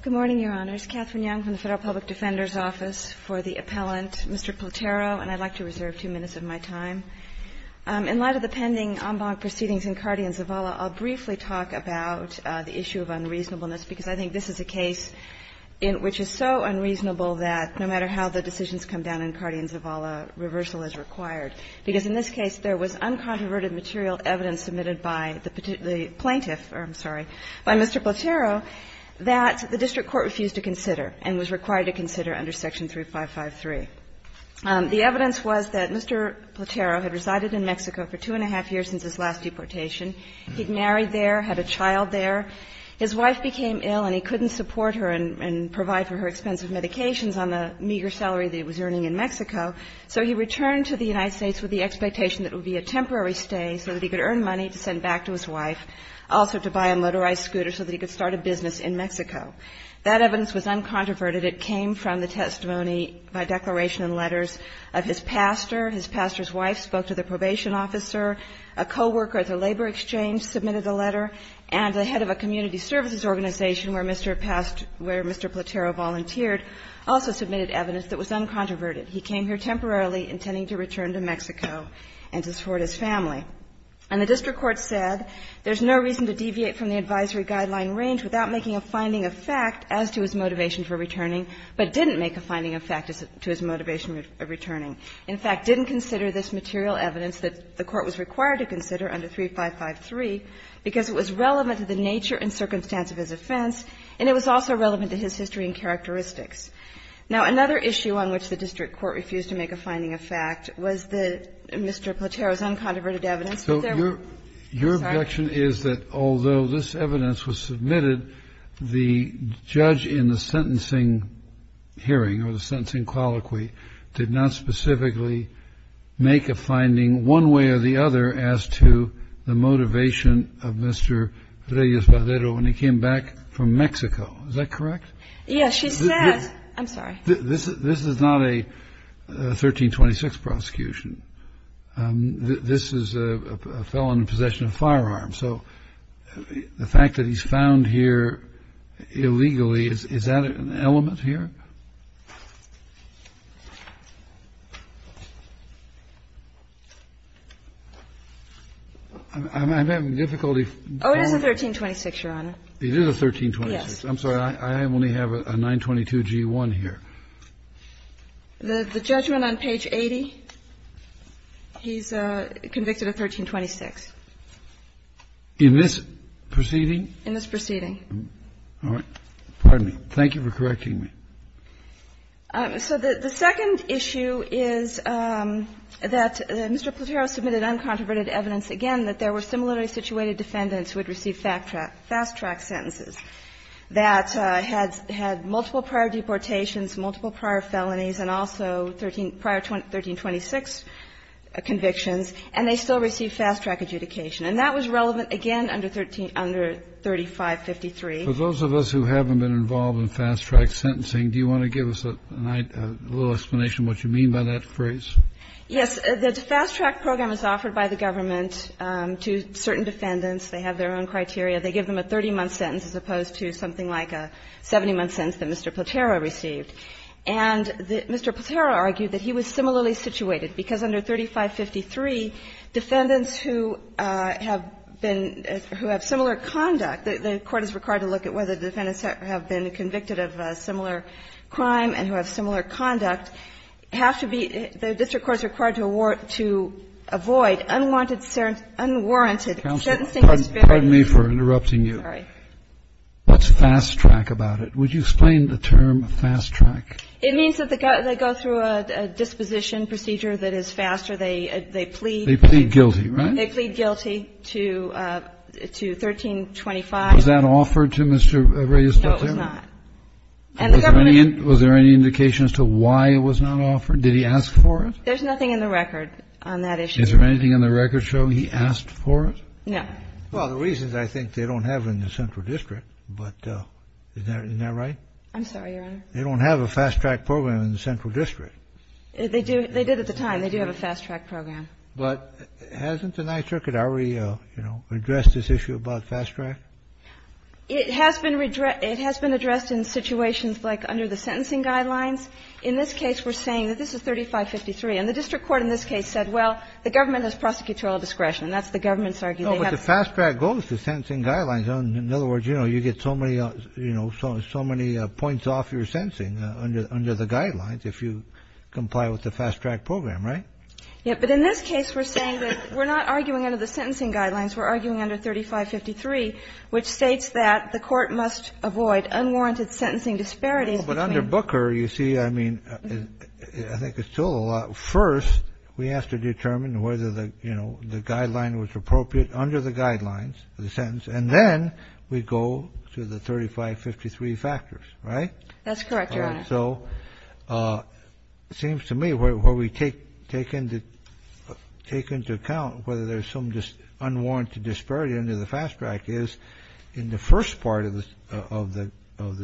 Good morning, Your Honors. Catherine Young from the Federal Public Defender's Office for the Appellant. Mr. Platero, and I'd like to reserve two minutes of my time. In light of the pending en banc proceedings in Cardi and Zavala, I'll briefly talk about the issue of unreasonableness, because I think this is a case in which is so unreasonable that no matter how the decisions come down in Cardi and Zavala, reversal is required, because in this case there was uncontroverted material of evidence submitted by the plaintiff, or I'm sorry, by Mr. Platero, that the district court refused to consider and was required to consider under Section 3553. The evidence was that Mr. Platero had resided in Mexico for two and a half years since his last deportation. He'd married there, had a child there. His wife became ill and he couldn't support her and provide for her expensive medications on the meager salary that he was earning in Mexico, so he returned to the United States with the expectation that it would be a temporary stay so that he could earn money to send back to his wife, also to buy a motorized scooter so that he could start a business in Mexico. That evidence was uncontroverted. It came from the testimony by declaration and letters of his pastor. His pastor's wife spoke to the probation officer. A co-worker at the labor exchange submitted a letter, and the head of a community services organization where Mr. Platero volunteered also submitted evidence that was uncontroverted. He came here temporarily intending to return to Mexico and to support his family. And the district court said there's no reason to deviate from the advisory guideline range without making a finding of fact as to his motivation for returning, but didn't make a finding of fact as to his motivation of returning. In fact, didn't consider this material evidence that the court was required to consider under 3553 because it was relevant to the nature and circumstance of his offense, and it was also relevant to his history and characteristics. Now, another issue on which the district court refused to make a finding of fact was the Mr. Platero's uncontroverted evidence that there were. I'm sorry. Kennedy, Your objection is that although this evidence was submitted, the judge in the sentencing hearing or the sentencing colloquy did not specifically make a finding one way or the other as to the motivation of Mr. Reyes-Badero when he came back from Mexico. Is that correct? Yes, she said. I'm sorry. This is not a 1326 prosecution. This is a felon in possession of firearms. So the fact that he's found here illegally, is that an element here? I'm having difficulty. Oh, it is a 1326, Your Honor. It is a 1326. Yes. I'm sorry. I only have a 922-G1 here. The judgment on page 80, he's convicted of 1326. In this proceeding? In this proceeding. All right. Pardon me. Thank you for correcting me. So the second issue is that Mr. Platero submitted uncontroverted evidence again that there were similarly situated defendants who had received fast-track sentences that had multiple prior deportations, multiple prior felonies, and also prior 1326 convictions, and they still received fast-track adjudication. And that was relevant, again, under 3553. For those of us who haven't been involved in fast-track sentencing, do you want to give us a little explanation of what you mean by that phrase? Yes. The fast-track program is offered by the government to certain defendants. They have their own criteria. They give them a 30-month sentence as opposed to something like a 70-month sentence that Mr. Platero received. And Mr. Platero argued that he was similarly situated, because under 3553, defendants who have been – who have similar conduct, the Court is required to look at whether defendants have been convicted of a similar crime and who have similar conduct, have to be – the district court is required to avoid unwanted – unwarranted sentencing. Pardon me for interrupting you. Sorry. What's fast-track about it? Would you explain the term fast-track? It means that they go through a disposition procedure that is faster. They plead. They plead guilty, right? They plead guilty to 1325. Was that offered to Mr. Reyes Platero? No, it was not. And the government – Was there any indication as to why it was not offered? Did he ask for it? There's nothing in the record on that issue. Is there anything in the record showing he asked for it? No. Well, the reason is I think they don't have it in the central district, but isn't that right? I'm sorry, Your Honor. They don't have a fast-track program in the central district. They do. They did at the time. They do have a fast-track program. But hasn't the Ninth Circuit already, you know, addressed this issue about fast-track? It has been addressed in situations like under the sentencing guidelines. In this case, we're saying that this is 3553. And the district court in this case said, well, the government has prosecutorial discretion. That's the government's argument. No, but the fast-track goes to sentencing guidelines. In other words, you know, you get so many, you know, so many points off your sentencing under the guidelines if you comply with the fast-track program, right? Yes, but in this case, we're saying that we're not arguing under the sentencing guidelines. We're arguing under 3553. Which states that the court must avoid unwarranted sentencing disparities between But under Booker, you see, I mean, I think it's still a lot. First, we have to determine whether the, you know, the guideline was appropriate under the guidelines, the sentence. And then we go to the 3553 factors, right? That's correct, Your Honor. So it seems to me where we take into account whether there's some unwarranted disparity under the fast-track is in the first part of the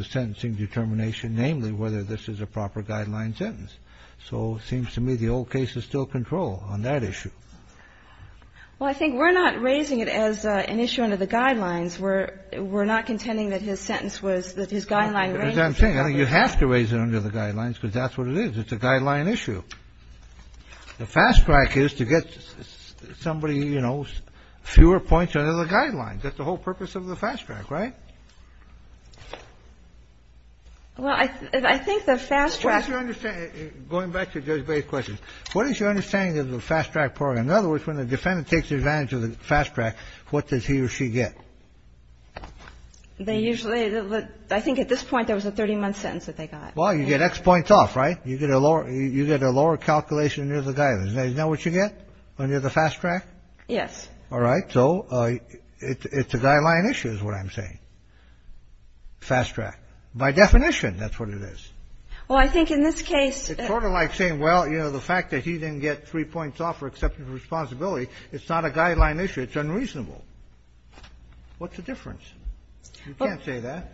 sentencing determination, namely, whether this is a proper guideline sentence. So it seems to me the old case is still control on that issue. Well, I think we're not raising it as an issue under the guidelines. We're not contending that his sentence was, that his guideline range was appropriate. That's what I'm saying. I think you have to raise it under the guidelines because that's what it is. It's a guideline issue. The fast-track is to get somebody, you know, fewer points under the guidelines. That's the whole purpose of the fast-track, right? Well, I think the fast-track. What is your understanding, going back to Judge Baye's question, what is your understanding of the fast-track program? In other words, when the defendant takes advantage of the fast-track, what does he or she get? They usually, I think at this point, there was a 30-month sentence that they got. Well, you get X points off, right? You get a lower calculation under the guidelines. Is that what you get under the fast-track? Yes. All right. So it's a guideline issue is what I'm saying. Fast-track. By definition, that's what it is. Well, I think in this case the court is like saying, well, you know, the fact that he didn't get three points off for acceptance of responsibility, it's not a guideline issue. It's unreasonable. What's the difference? You can't say that.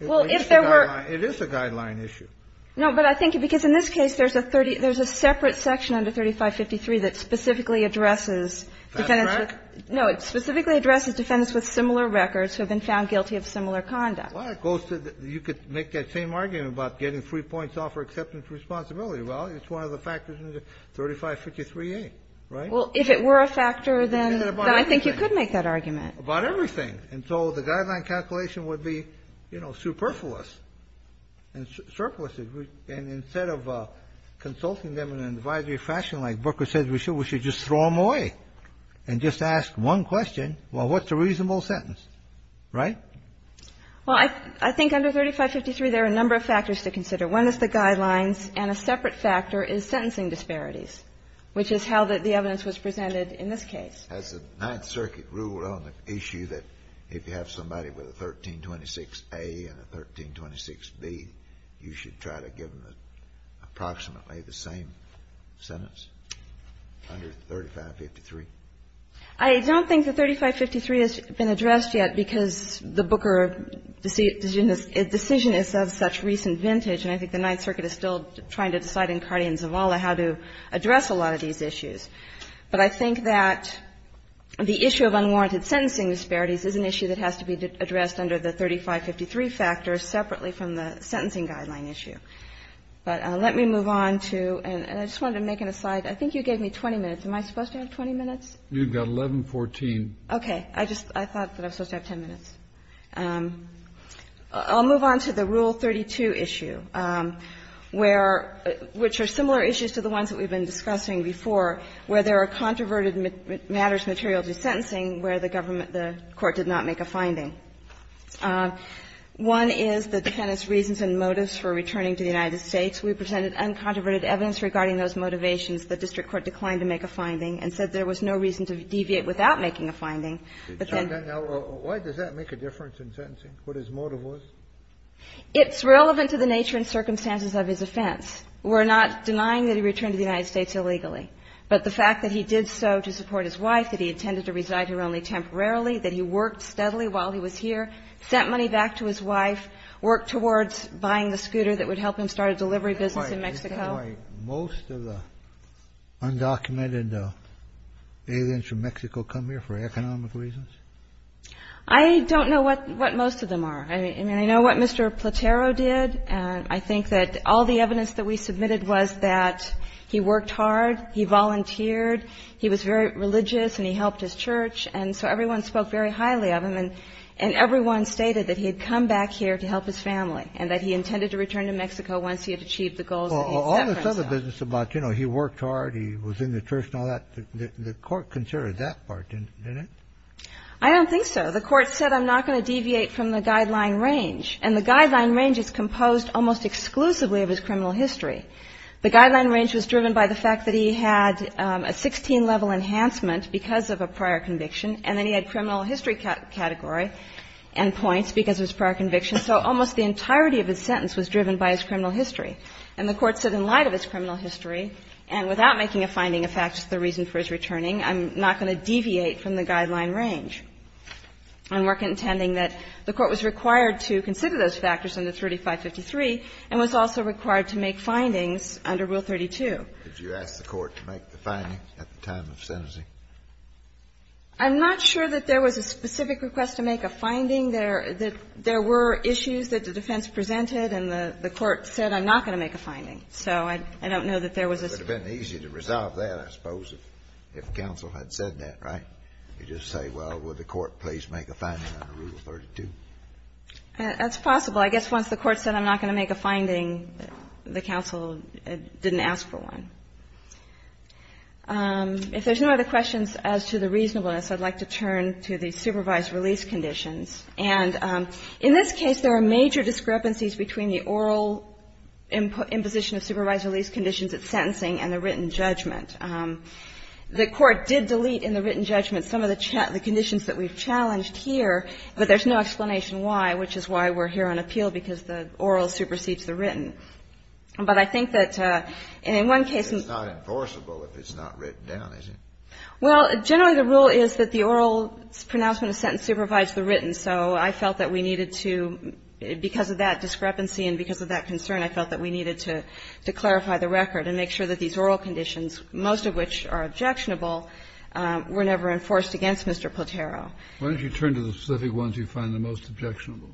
Well, if there were. It is a guideline issue. No, but I think because in this case there's a separate section under 3553 that specifically addresses defendants with. Fast-track? No. It specifically addresses defendants with similar records who have been found guilty of similar conduct. Well, it goes to the you could make that same argument about getting three points off for acceptance of responsibility. Well, it's one of the factors under 3553A, right? Well, if it were a factor, then I think you could make that argument. About everything. And so the guideline calculation would be, you know, superfluous and surplus. And instead of consulting them in an advisory fashion like Booker said, we should just throw them away and just ask one question, well, what's a reasonable sentence, right? Well, I think under 3553 there are a number of factors to consider. One is the guidelines, and a separate factor is sentencing disparities, which is how the evidence was presented in this case. Has the Ninth Circuit ruled on the issue that if you have somebody with a 1326A and a 1326B, you should try to give them approximately the same sentence under 3553? I don't think that 3553 has been addressed yet because the Booker decision is of such recent vintage, and I think the Ninth Circuit is still trying to decide in Cardia But I think that the issue of unwarranted sentencing disparities is an issue that has to be addressed under the 3553 factor separately from the sentencing guideline issue. But let me move on to, and I just wanted to make an aside, I think you gave me 20 minutes. Am I supposed to have 20 minutes? You've got 1114. Okay. I just, I thought that I was supposed to have 10 minutes. I'll move on to the Rule 32 issue, where, which are similar issues to the ones that we've been discussing before, where there are controverted matters material to sentencing where the government, the Court did not make a finding. One is the Defendant's reasons and motives for returning to the United States. We presented uncontroverted evidence regarding those motivations. The district court declined to make a finding and said there was no reason to deviate without making a finding. Why does that make a difference in sentencing? What his motive was? It's relevant to the nature and circumstances of his offense. We're not denying that he returned to the United States illegally, but the fact that he did so to support his wife, that he intended to reside here only temporarily, that he worked steadily while he was here, sent money back to his wife, worked towards buying the scooter that would help him start a delivery business in Mexico. That's why most of the undocumented aliens from Mexico come here, for economic reasons? I don't know what most of them are. I mean, I know what Mr. Platero did, and I think that all the evidence that we submitted was that he worked hard, he volunteered, he was very religious, and he helped his church, and so everyone spoke very highly of him, and everyone stated that he had come back here to help his family, and that he intended to return to Mexico once he had achieved the goals that he set. Well, all this other business about, you know, he worked hard, he was in the church and all that, the court considered that part, didn't it? I don't think so. The court said, I'm not going to deviate from the guideline range, and the guideline range is composed almost exclusively of his criminal history. The guideline range was driven by the fact that he had a 16-level enhancement because of a prior conviction, and then he had criminal history category and points because of his prior conviction, so almost the entirety of his sentence was driven by his criminal history, and the court said in light of his criminal history, and without making a finding of facts as the reason for his returning, I'm not going to deviate from the guideline range. I'm not contending that the court was required to consider those factors under 3553 and was also required to make findings under Rule 32. Kennedy, did you ask the court to make the finding at the time of sentencing? I'm not sure that there was a specific request to make a finding. There were issues that the defense presented and the court said, I'm not going to make a finding, so I don't know that there was a specific request. It would have been easy to resolve that, I suppose, if counsel had said that, right? You just say, well, would the court please make a finding under Rule 32? That's possible. I guess once the court said, I'm not going to make a finding, the counsel didn't ask for one. If there's no other questions as to the reasonableness, I'd like to turn to the supervised release conditions. And in this case, there are major discrepancies between the oral imposition of supervised release conditions at sentencing and the written judgment. The court did delete in the written judgment some of the conditions that we've challenged here, but there's no explanation why, which is why we're here on appeal, because the oral supersedes the written. But I think that in one case we've got a case that's not enforceable if it's not written down, is it? Well, generally the rule is that the oral pronouncement of a sentence supervises the written. So I felt that we needed to, because of that discrepancy and because of that concern, I felt that we needed to clarify the record and make sure that these oral conditions, most of which are objectionable, were never enforced against Mr. Platero. Why don't you turn to the specific ones you find the most objectionable?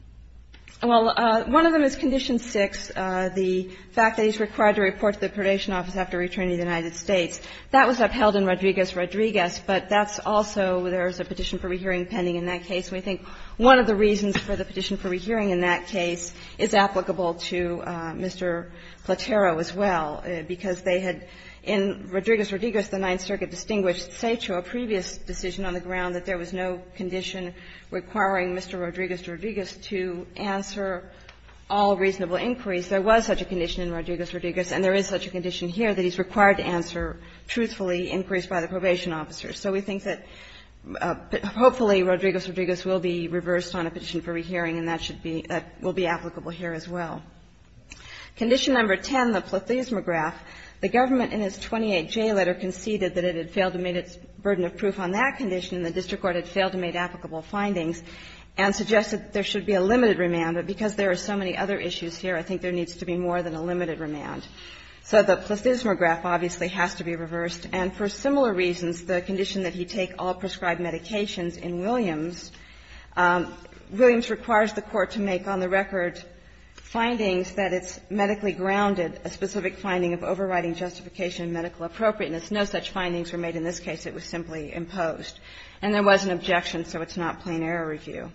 Well, one of them is Condition 6, the fact that he's required to report to the predation office after returning to the United States. That was upheld in Rodriguez-Rodriguez, but that's also where there's a petition for rehearing pending in that case. And we think one of the reasons for the petition for rehearing in that case is applicable to Mr. Platero as well, because they had, in Rodriguez-Rodriguez, the Ninth Circuit distinguished, say to a previous decision on the ground that there was no condition requiring Mr. Rodriguez-Rodriguez to answer all reasonable inquiries. There was such a condition in Rodriguez-Rodriguez, and there is such a condition here that he's required to answer truthfully inquiries by the probation officer. So we think that hopefully Rodriguez-Rodriguez will be reversed on a petition for rehearing, and that should be – that will be applicable here as well. Condition Number 10, the plethysmograph, the government in its 28J letter conceded that it had failed to meet its burden of proof on that condition, and the district court had failed to meet applicable findings, and suggested there should be a limited remand. But because there are so many other issues here, I think there needs to be more than a limited remand. So the plethysmograph obviously has to be reversed, and for similar reasons, the condition that he take all prescribed medications in Williams, Williams requires the court to make on the record findings that it's medically grounded, a specific finding of overriding justification and medical appropriateness. No such findings were made in this case. It was simply imposed. And there was an objection, so it's not plain error review.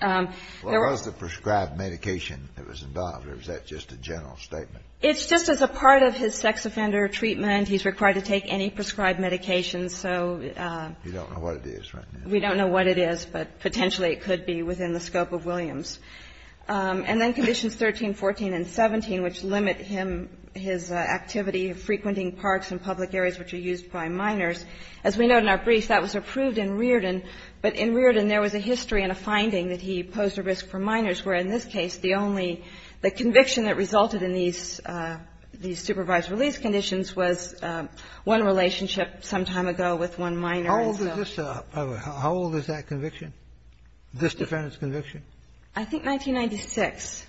There was the prescribed medication that was involved, or is that just a general statement? It's just as a part of his sex offender treatment. He's required to take any prescribed medication. So we don't know what it is, but potentially it could be within the scope of Williams. And then Conditions 13, 14, and 17, which limit him, his activity of frequenting parks in public areas which are used by minors. As we note in our brief, that was approved in Riordan, but in Riordan there was a history and a finding that he posed a risk for minors, where in this case the only the conviction that resulted in these supervised release conditions was one relationship some time ago with one minor. How old is that conviction, this defendant's conviction? I think 1996.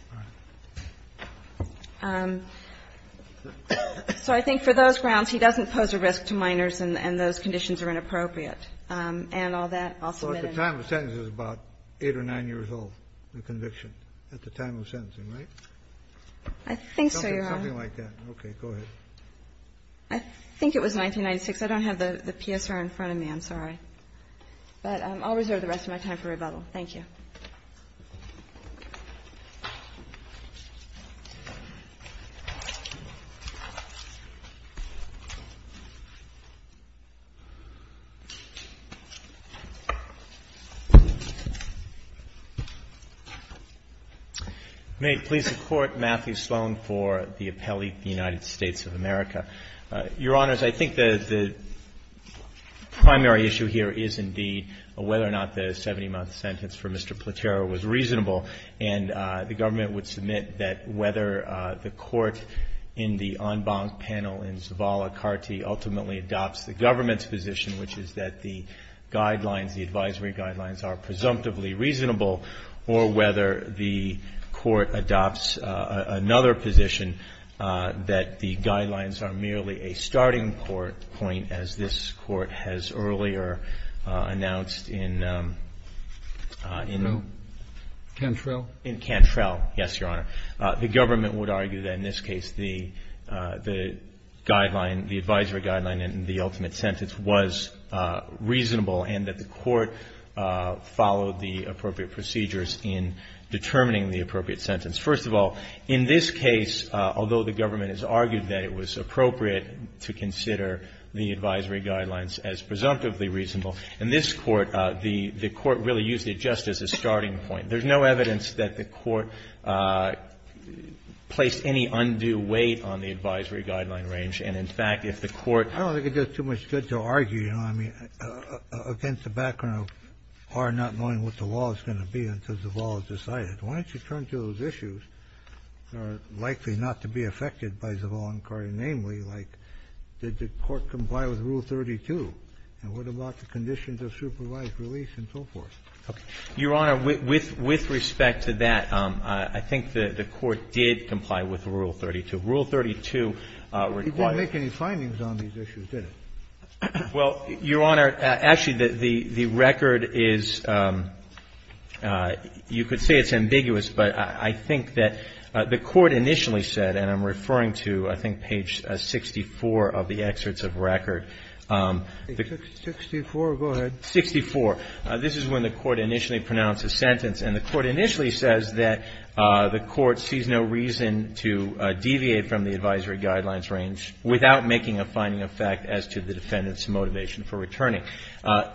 So I think for those grounds, he doesn't pose a risk to minors, and those conditions are inappropriate. And all that, I'll submit in. So at the time of sentencing, he was about 8 or 9 years old, the conviction, at the time of sentencing, right? I think so, Your Honor. Something like that. Okay. Go ahead. I think it was 1996. I don't have the PSR in front of me. I'm sorry. But I'll reserve the rest of my time for rebuttal. Thank you. May it please the Court, Matthew Sloan for the appellate, the United States of America. Your Honors, I think the primary issue here is indeed whether or not the 70-month sentence for Mr. Platero was reasonable. And the government would submit that whether the court in the en banc panel in Zavala-Carty ultimately adopts the government's position, which is that the guidelines, the advisory guidelines, are presumptively reasonable, or whether the court adopts another position that the guidelines are merely a starting point, as this Court has earlier announced in... Cantrell? In Cantrell, yes, Your Honor. The government would argue that, in this case, the guideline, the advisory guideline in the ultimate sentence was reasonable and that the court followed the appropriate procedures in determining the appropriate sentence. First of all, in this case, although the government has argued that it was appropriate to consider the advisory guidelines as presumptively reasonable, in this court, the court really used it just as a starting point. There's no evidence that the court placed any undue weight on the advisory guideline range. And, in fact, if the court... I don't think it does too much good to argue, you know what I mean, against the background of our not knowing what the law is going to be until Zavala is decided. Why don't you turn to those issues that are likely not to be affected by Zavala-Carty, namely, like, did the court comply with Rule 32, and what about the conditions of supervised release and so forth? Okay. Your Honor, with respect to that, I think the court did comply with Rule 32. Rule 32 requires... He didn't make any findings on these issues, did he? Well, Your Honor, actually, the record is, you could say it's ambiguous, but I think that the court initially said, and I'm referring to, I think, page 64 of the excerpts of record. Sixty-four, go ahead. Sixty-four. This is when the court initially pronounced a sentence. And the court initially says that the court sees no reason to deviate from the advisory guidelines range without making a finding of fact as to the defendant's motivation for returning.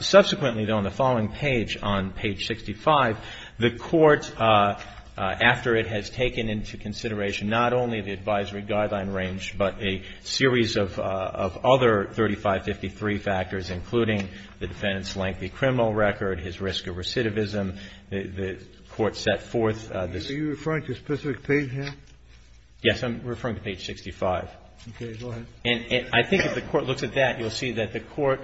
Subsequently, though, on the following page, on page 65, the court, after it has taken into consideration not only the advisory guideline range, but a series of other 3553 factors, including the defendant's lengthy criminal record, his risk of recidivism, the court set forth this... Are you referring to a specific page here? Yes, I'm referring to page 65. Okay. Go ahead. And I think if the court looks at that, you'll see that the court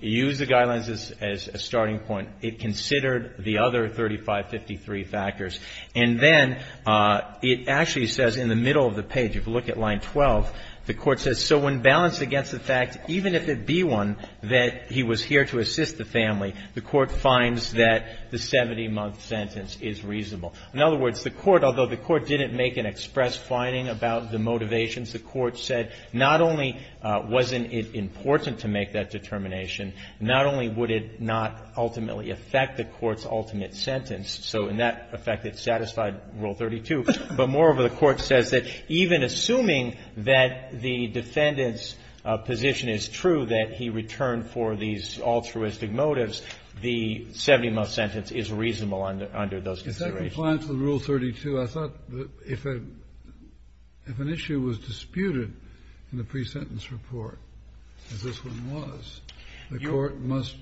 used the guidelines as a starting point. It considered the other 3553 factors. And then it actually says in the middle of the page, if you look at line 12, the court says, so when balanced against the fact, even if it be one, that he was here to assist the family, the court finds that the 70-month sentence is reasonable. In other words, the court, although the court didn't make an express finding about the motivations, the court said not only wasn't it important to make that determination, not only would it not ultimately affect the court's ultimate sentence, so in that effect, it satisfied Rule 32, but moreover, the court says that even assuming that the defendant's position is true, that he returned for these altruistic motives, the 70-month sentence is reasonable under those considerations. Kennedy, if I'm compliant with Rule 32, I thought that if an issue was disputed in the pre-sentence report, as this one was, the court must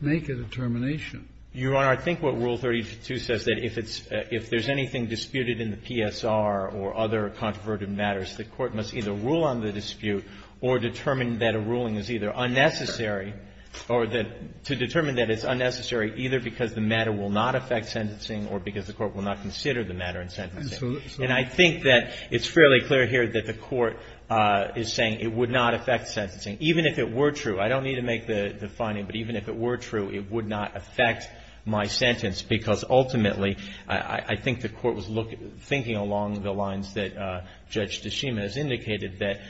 make a determination. Your Honor, I think what Rule 32 says, that if there's anything disputed in the PSR or other controverted matters, the court must either rule on the dispute or determine that a ruling is either unnecessary or that to determine that it's unnecessary either because the matter will not affect sentencing or because the court will not consider the matter in sentencing. And I think that it's fairly clear here that the court is saying it would not affect sentencing. Even if it were true, I don't need to make the finding, but even if it were true, it would not affect my sentence, because ultimately, I think the court was thinking along the lines that Judge Tshishima has indicated, that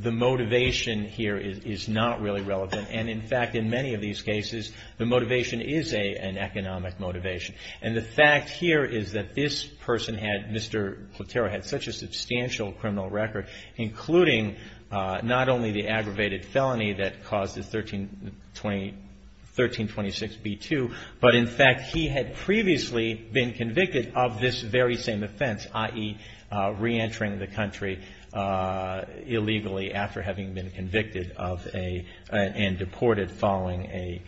the motivation here is not really relevant. And in fact, in many of these cases, the motivation is an economic motivation. And the fact here is that this person had, Mr. Platero, had such a substantial criminal record, including not only the aggravated felony that caused the 1326b2, but in fact, he had previously been convicted of this very same offense, i.e., entering the country illegally after having been convicted of a, and deported following a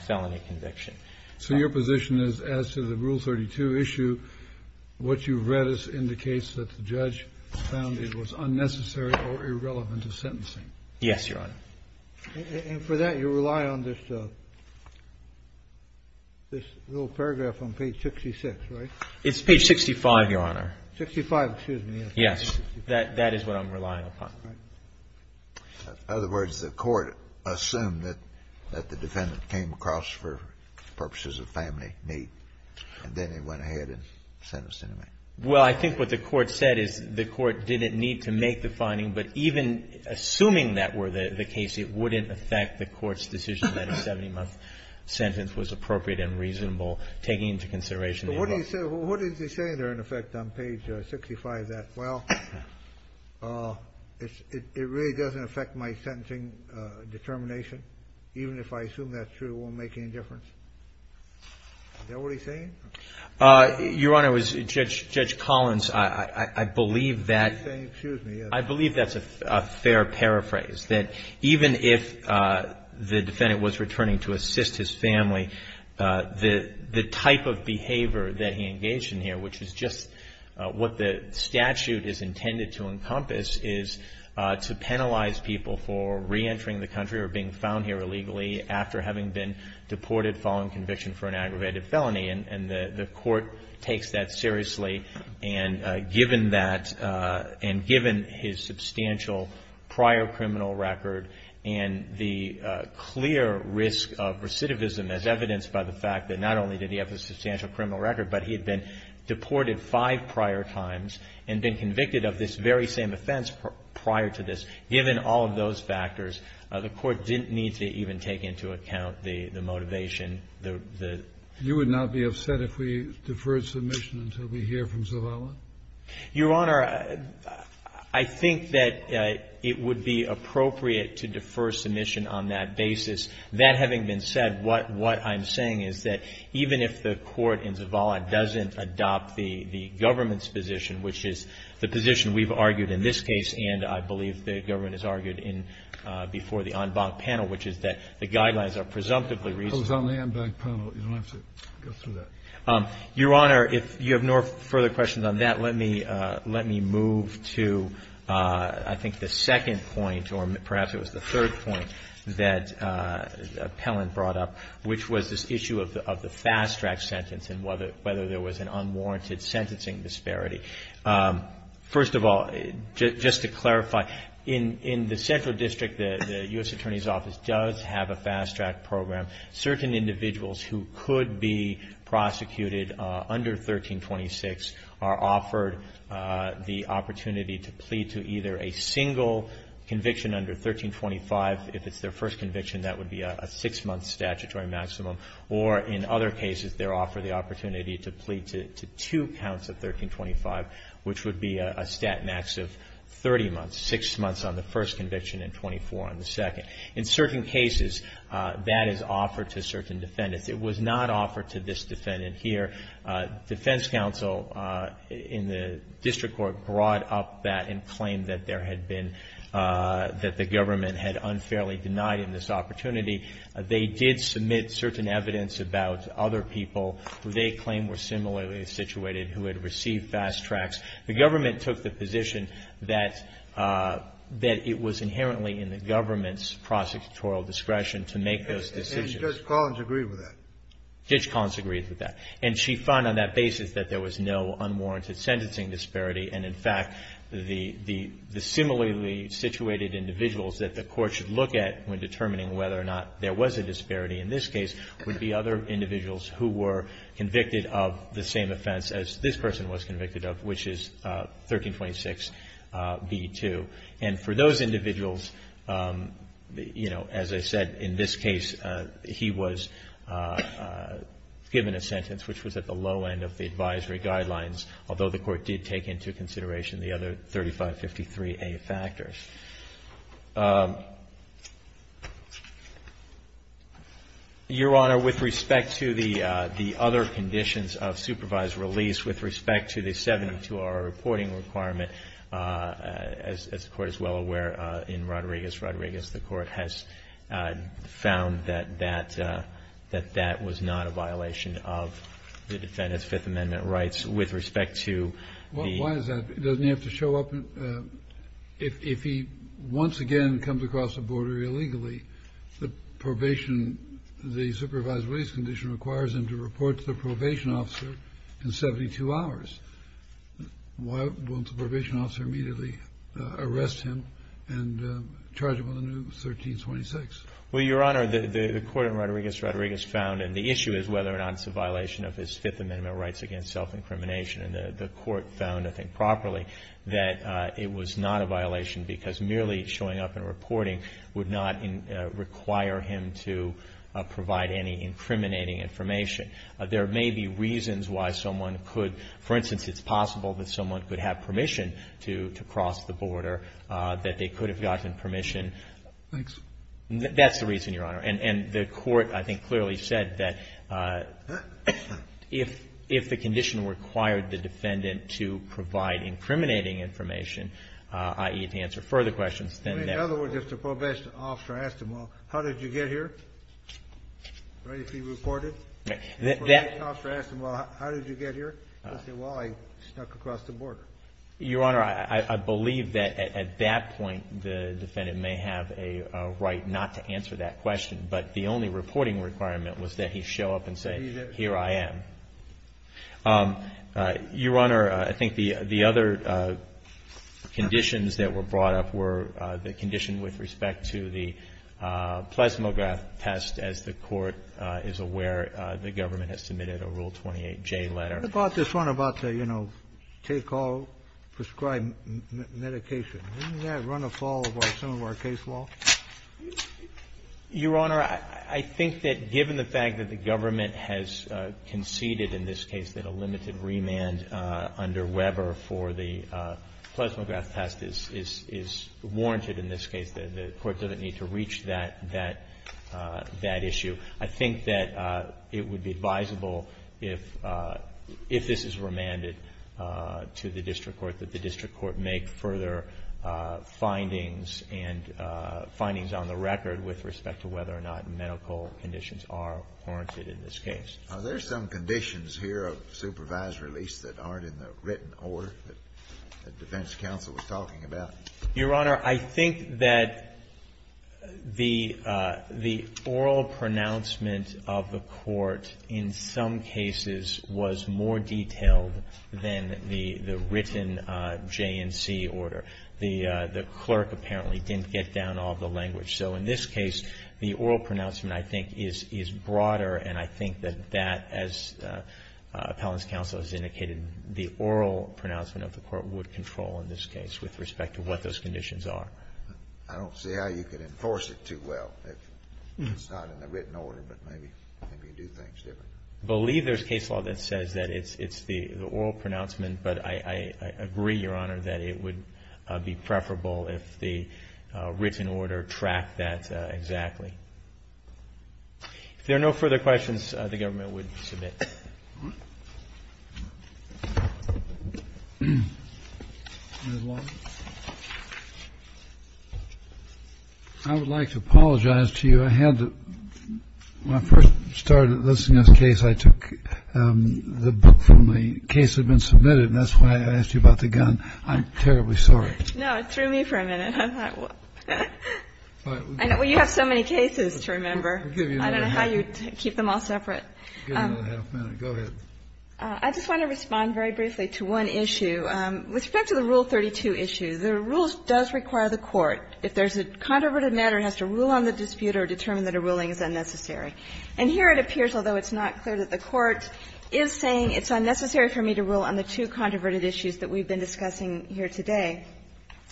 felony conviction. So your position is, as to the Rule 32 issue, what you've read indicates that the judge found it was unnecessary or irrelevant to sentencing? Yes, Your Honor. And for that, you rely on this little paragraph on page 66, right? It's page 65, Your Honor. 65, excuse me. Yes. That is what I'm relying upon. In other words, the court assumed that the defendant came across for purposes of family need, and then they went ahead and sentenced him to me. Well, I think what the court said is the court didn't need to make the finding, but even assuming that were the case, it wouldn't affect the court's decision that a 70-month sentence was appropriate and reasonable, taking into consideration the involvement. What is he saying there, in effect, on page 65, that, well, it really doesn't affect my sentencing determination, even if I assume that's true, it won't make any difference? Is that what he's saying? Your Honor, Judge Collins, I believe that's a fair paraphrase, that even if the record that he engaged in here, which is just what the statute is intended to encompass, is to penalize people for reentering the country or being found here illegally after having been deported following conviction for an aggravated felony. And the court takes that seriously, and given that, and given his substantial prior criminal record and the clear risk of recidivism as evidenced by the fact that not only did he have a substantial criminal record, but he had been deported five prior times and been convicted of this very same offense prior to this, given all of those factors, the court didn't need to even take into account the motivation the ---- You would not be upset if we deferred submission until we hear from Zavala? Your Honor, I think that it would be appropriate to defer submission on that basis. That having been said, what I'm saying is that even if the court in Zavala doesn't adopt the government's position, which is the position we've argued in this case and I believe the government has argued before the en banc panel, which is that the guidelines are presumptively reasonable. Your Honor, if you have no further questions on that, let me move to, I think, the other issue that Appellant brought up, which was this issue of the fast-track sentence and whether there was an unwarranted sentencing disparity. First of all, just to clarify, in the Central District, the U.S. Attorney's Office does have a fast-track program. Certain individuals who could be prosecuted under 1326 are offered the opportunity to plead to either a single conviction under 1325. If it's their first conviction, that would be a six-month statutory maximum. Or in other cases, they're offered the opportunity to plead to two counts of 1325, which would be a stat max of 30 months, six months on the first conviction and 24 on the second. In certain cases, that is offered to certain defendants. It was not offered to this defendant here. Defense counsel in the district court brought up that and claimed that there had been, that the government had unfairly denied him this opportunity. They did submit certain evidence about other people who they claimed were similarly situated who had received fast-tracks. The government took the position that it was inherently in the government's prosecutorial discretion to make those decisions. And Judge Collins agreed with that? Judge Collins agreed with that. And she found on that basis that there was no unwarranted sentencing disparity. And, in fact, the similarly situated individuals that the court should look at when determining whether or not there was a disparity in this case would be other individuals who were convicted of the same offense as this person was convicted of, which is 1326b2. And for those individuals, you know, as I said, in this case, he was given a sentence which was at the low end of the advisory guidelines, although the court did take into consideration the other 3553a factors. Your Honor, with respect to the other conditions of supervised release, with respect to the 72-hour reporting requirement, as the Court is well aware in Rodriguez, Rodriguez, the Court has found that that was not a violation of the defendant's With respect to the ---- Why is that? Doesn't he have to show up? If he once again comes across the border illegally, the probation, the supervised release condition requires him to report to the probation officer in 72 hours. Why won't the probation officer immediately arrest him and charge him with a new 1326? Well, Your Honor, the Court in Rodriguez, Rodriguez found, and the issue is whether or not it's a violation of his Fifth Amendment rights against self-incrimination. And the Court found, I think, properly, that it was not a violation because merely showing up and reporting would not require him to provide any incriminating information. There may be reasons why someone could, for instance, it's possible that someone could have permission to cross the border, that they could have gotten permission Thanks. That's the reason, Your Honor. And the Court, I think, clearly said that if the condition required the defendant to provide incriminating information, i.e., to answer further questions, then that In other words, if the probation officer asked him, well, how did you get here? Right? If he reported? Right. If the probation officer asked him, well, how did you get here? He would say, well, I snuck across the border. Your Honor, I believe that at that point the defendant may have a right not to answer that question, but the only reporting requirement was that he show up and say, here I am. Your Honor, I think the other conditions that were brought up were the condition with respect to the plasmograph test. As the Court is aware, the government has submitted a Rule 28J letter. What about this one about the, you know, take all prescribed medication? Doesn't that run afoul of some of our case law? Your Honor, I think that given the fact that the government has conceded in this case that a limited remand under Weber for the plasmograph test is warranted in this case, the Court doesn't need to reach that issue. I think that it would be advisable if this is remanded to the district court, that the district court make further findings and findings on the record with respect to whether or not medical conditions are warranted in this case. Are there some conditions here of supervised release that aren't in the written order that the defense counsel was talking about? Your Honor, I think that the oral pronouncement of the Court in some cases was more in the written J&C order. The clerk apparently didn't get down all the language. So in this case, the oral pronouncement I think is broader, and I think that that, as appellant's counsel has indicated, the oral pronouncement of the Court would control in this case with respect to what those conditions are. I don't see how you could enforce it too well if it's not in the written order, but maybe you can do things differently. I believe there's case law that says that it's the oral pronouncement, but I agree, Your Honor, that it would be preferable if the written order tracked that exactly. If there are no further questions, the government would submit. I would like to apologize to you. I had to, when I first started listening to this case, I took the book from the case that had been submitted, and that's why I asked you about the gun. I'm terribly sorry. No, it threw me for a minute. I thought, well, you have so many cases to remember. I don't know how you keep them all separate. I just want to respond very briefly to one issue. With respect to the Rule 32 issue, the rules does require the Court, if there's a controverted matter, it has to rule on the dispute or determine that a ruling is unnecessary. And here it appears, although it's not clear, that the Court is saying it's unnecessary for me to rule on the two controverted issues that we've been discussing here today.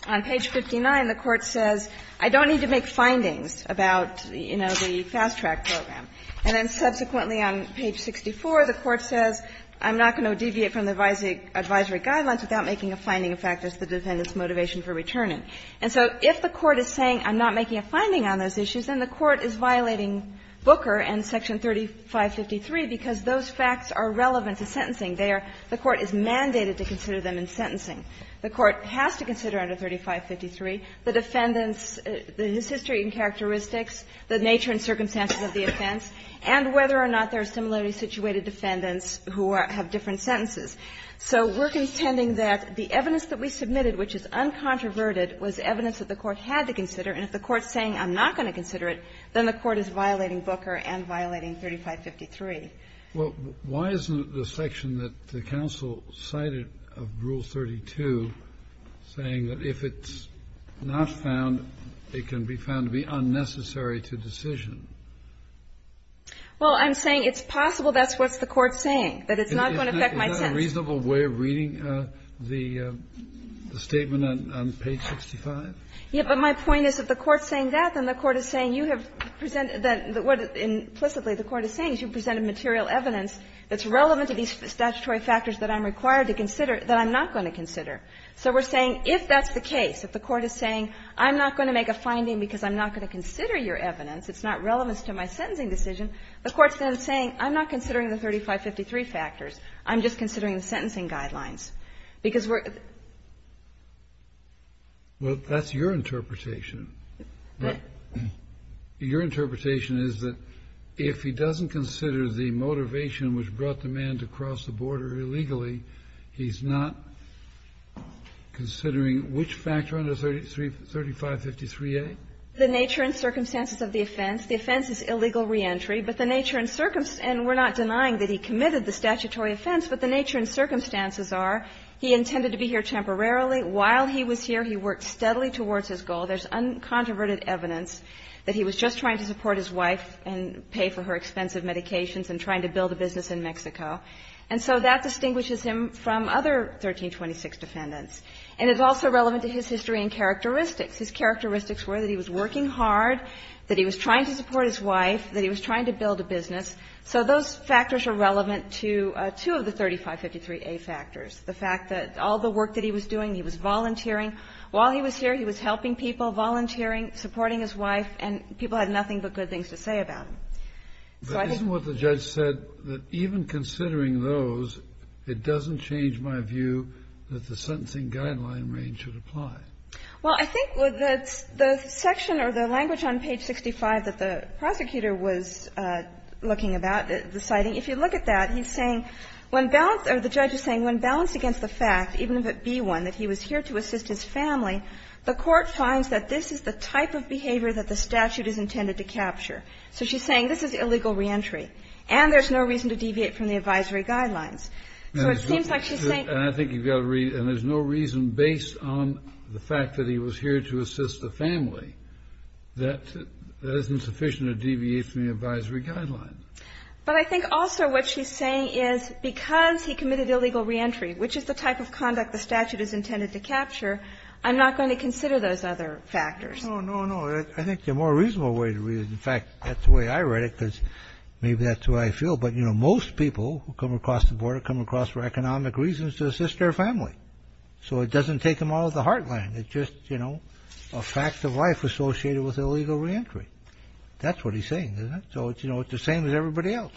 On page 59, the Court says, I don't need to make findings about, you know, the fast track program. And then subsequently on page 64, the Court says, I'm not going to deviate from the advisory guidelines without making a finding of factors to the defendant's motivation for returning. And so if the Court is saying, I'm not making a finding on those issues, then the Court is violating Booker and section 3553 because those facts are relevant to sentencing. They are the Court is mandated to consider them in sentencing. The Court has to consider under 3553 the defendant's, his history and characteristics, the nature and circumstances of the offense, and whether or not there are similarly situated defendants who have different sentences. So we're contending that the evidence that we submitted, which is uncontroverted, was evidence that the Court had to consider. And if the Court is saying, I'm not going to consider it, then the Court is violating Booker and violating 3553. Kennedy. Well, why isn't the section that the counsel cited of Rule 32 saying that if it's not found, it can be found to be unnecessary to decision? Well, I'm saying it's possible that's what the Court's saying, that it's not going to affect my sentence. Isn't that a reasonable way of reading the statement on page 65? Yes, but my point is if the Court's saying that, then the Court is saying you have presented that what implicitly the Court is saying is you've presented material evidence that's relevant to these statutory factors that I'm required to consider that I'm not going to consider. So we're saying if that's the case, if the Court is saying I'm not going to make a finding because I'm not going to consider your evidence, it's not relevant to my sentencing decision, the Court's then saying I'm not considering the 3553 factors, I'm just considering the sentencing guidelines. Because we're --- Well, that's your interpretation. What? Your interpretation is that if he doesn't consider the motivation which brought the man to cross the border illegally, he's not considering which factor under 3553A? The nature and circumstances of the offense. The offense is illegal reentry. But the nature and circumstances --- and we're not denying that he committed the statutory offense. But the nature and circumstances are he intended to be here temporarily. While he was here, he worked steadily towards his goal. There's uncontroverted evidence that he was just trying to support his wife and pay for her expensive medications and trying to build a business in Mexico. And so that distinguishes him from other 1326 defendants. And it's also relevant to his history and characteristics. His characteristics were that he was working hard, that he was trying to support his wife, that he was trying to build a business. So those factors are relevant to two of the 3553A factors, the fact that all the work that he was doing, he was volunteering. While he was here, he was helping people, volunteering, supporting his wife, and people had nothing but good things to say about him. So I think ---- Kennedy, but isn't what the judge said that even considering those, it doesn't change my view that the sentencing guideline range should apply? Well, I think that the section or the language on page 65 that the prosecutor was looking about, the citing, if you look at that, he's saying when balanced or the judge is saying when balanced against the fact, even if it be one, that he was here to assist his family, the court finds that this is the type of behavior that the statute is intended to capture. So she's saying this is illegal reentry, and there's no reason to deviate from the advisory guidelines. So it seems like she's saying ---- And I think you've got to read, and there's no reason, based on the fact that he was here to assist the family, that that isn't sufficient to deviate from the advisory guidelines. But I think also what she's saying is because he committed illegal reentry, which is the type of conduct the statute is intended to capture, I'm not going to consider those other factors. No, no, no. I think the more reasonable way to read it, in fact, that's the way I read it because maybe that's the way I feel. But, you know, most people who come across the border come across for economic reasons to assist their family. So it doesn't take them out of the heartland. It's just, you know, a fact of life associated with illegal reentry. That's what he's saying, isn't it? So, you know, it's the same as everybody else.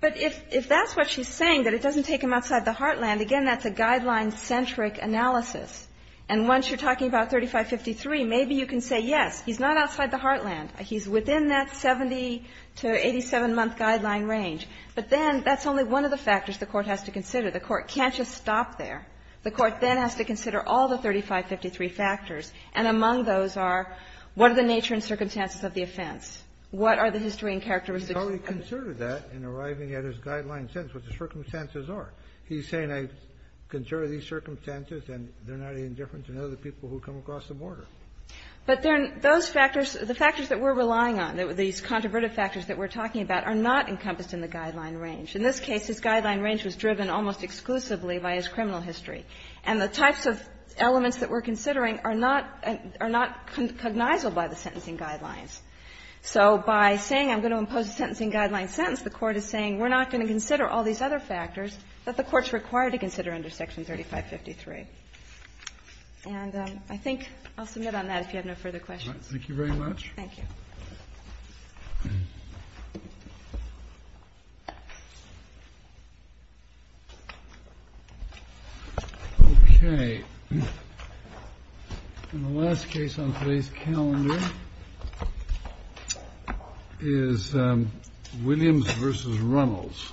But if that's what she's saying, that it doesn't take them outside the heartland, again, that's a guideline-centric analysis. And once you're talking about 3553, maybe you can say, yes, he's not outside the heartland. He's within that 70- to 87-month guideline range. But then that's only one of the factors the Court has to consider. The Court can't just stop there. The Court then has to consider all the 3553 factors. And among those are what are the nature and circumstances of the offense? What are the history and characteristics of the offense? Kennedy. He's already considered that in arriving at his guideline sentence, what the circumstances are. He's saying, I've considered these circumstances, and they're not any different than other people who come across the border. But those factors, the factors that we're relying on, these controvertive factors that we're talking about, are not encompassed in the guideline range. In this case, his guideline range was driven almost exclusively by his criminal history. And the types of elements that we're considering are not cognizable by the sentencing guidelines. So by saying, I'm going to impose a sentencing guideline sentence, the Court is saying, we're not going to consider all these other factors that the Court's required to consider under Section 3553. And I think I'll submit on that if you have no further questions. Thank you very much. Thank you. Okay. And the last case on today's calendar is Williams v. Runnels.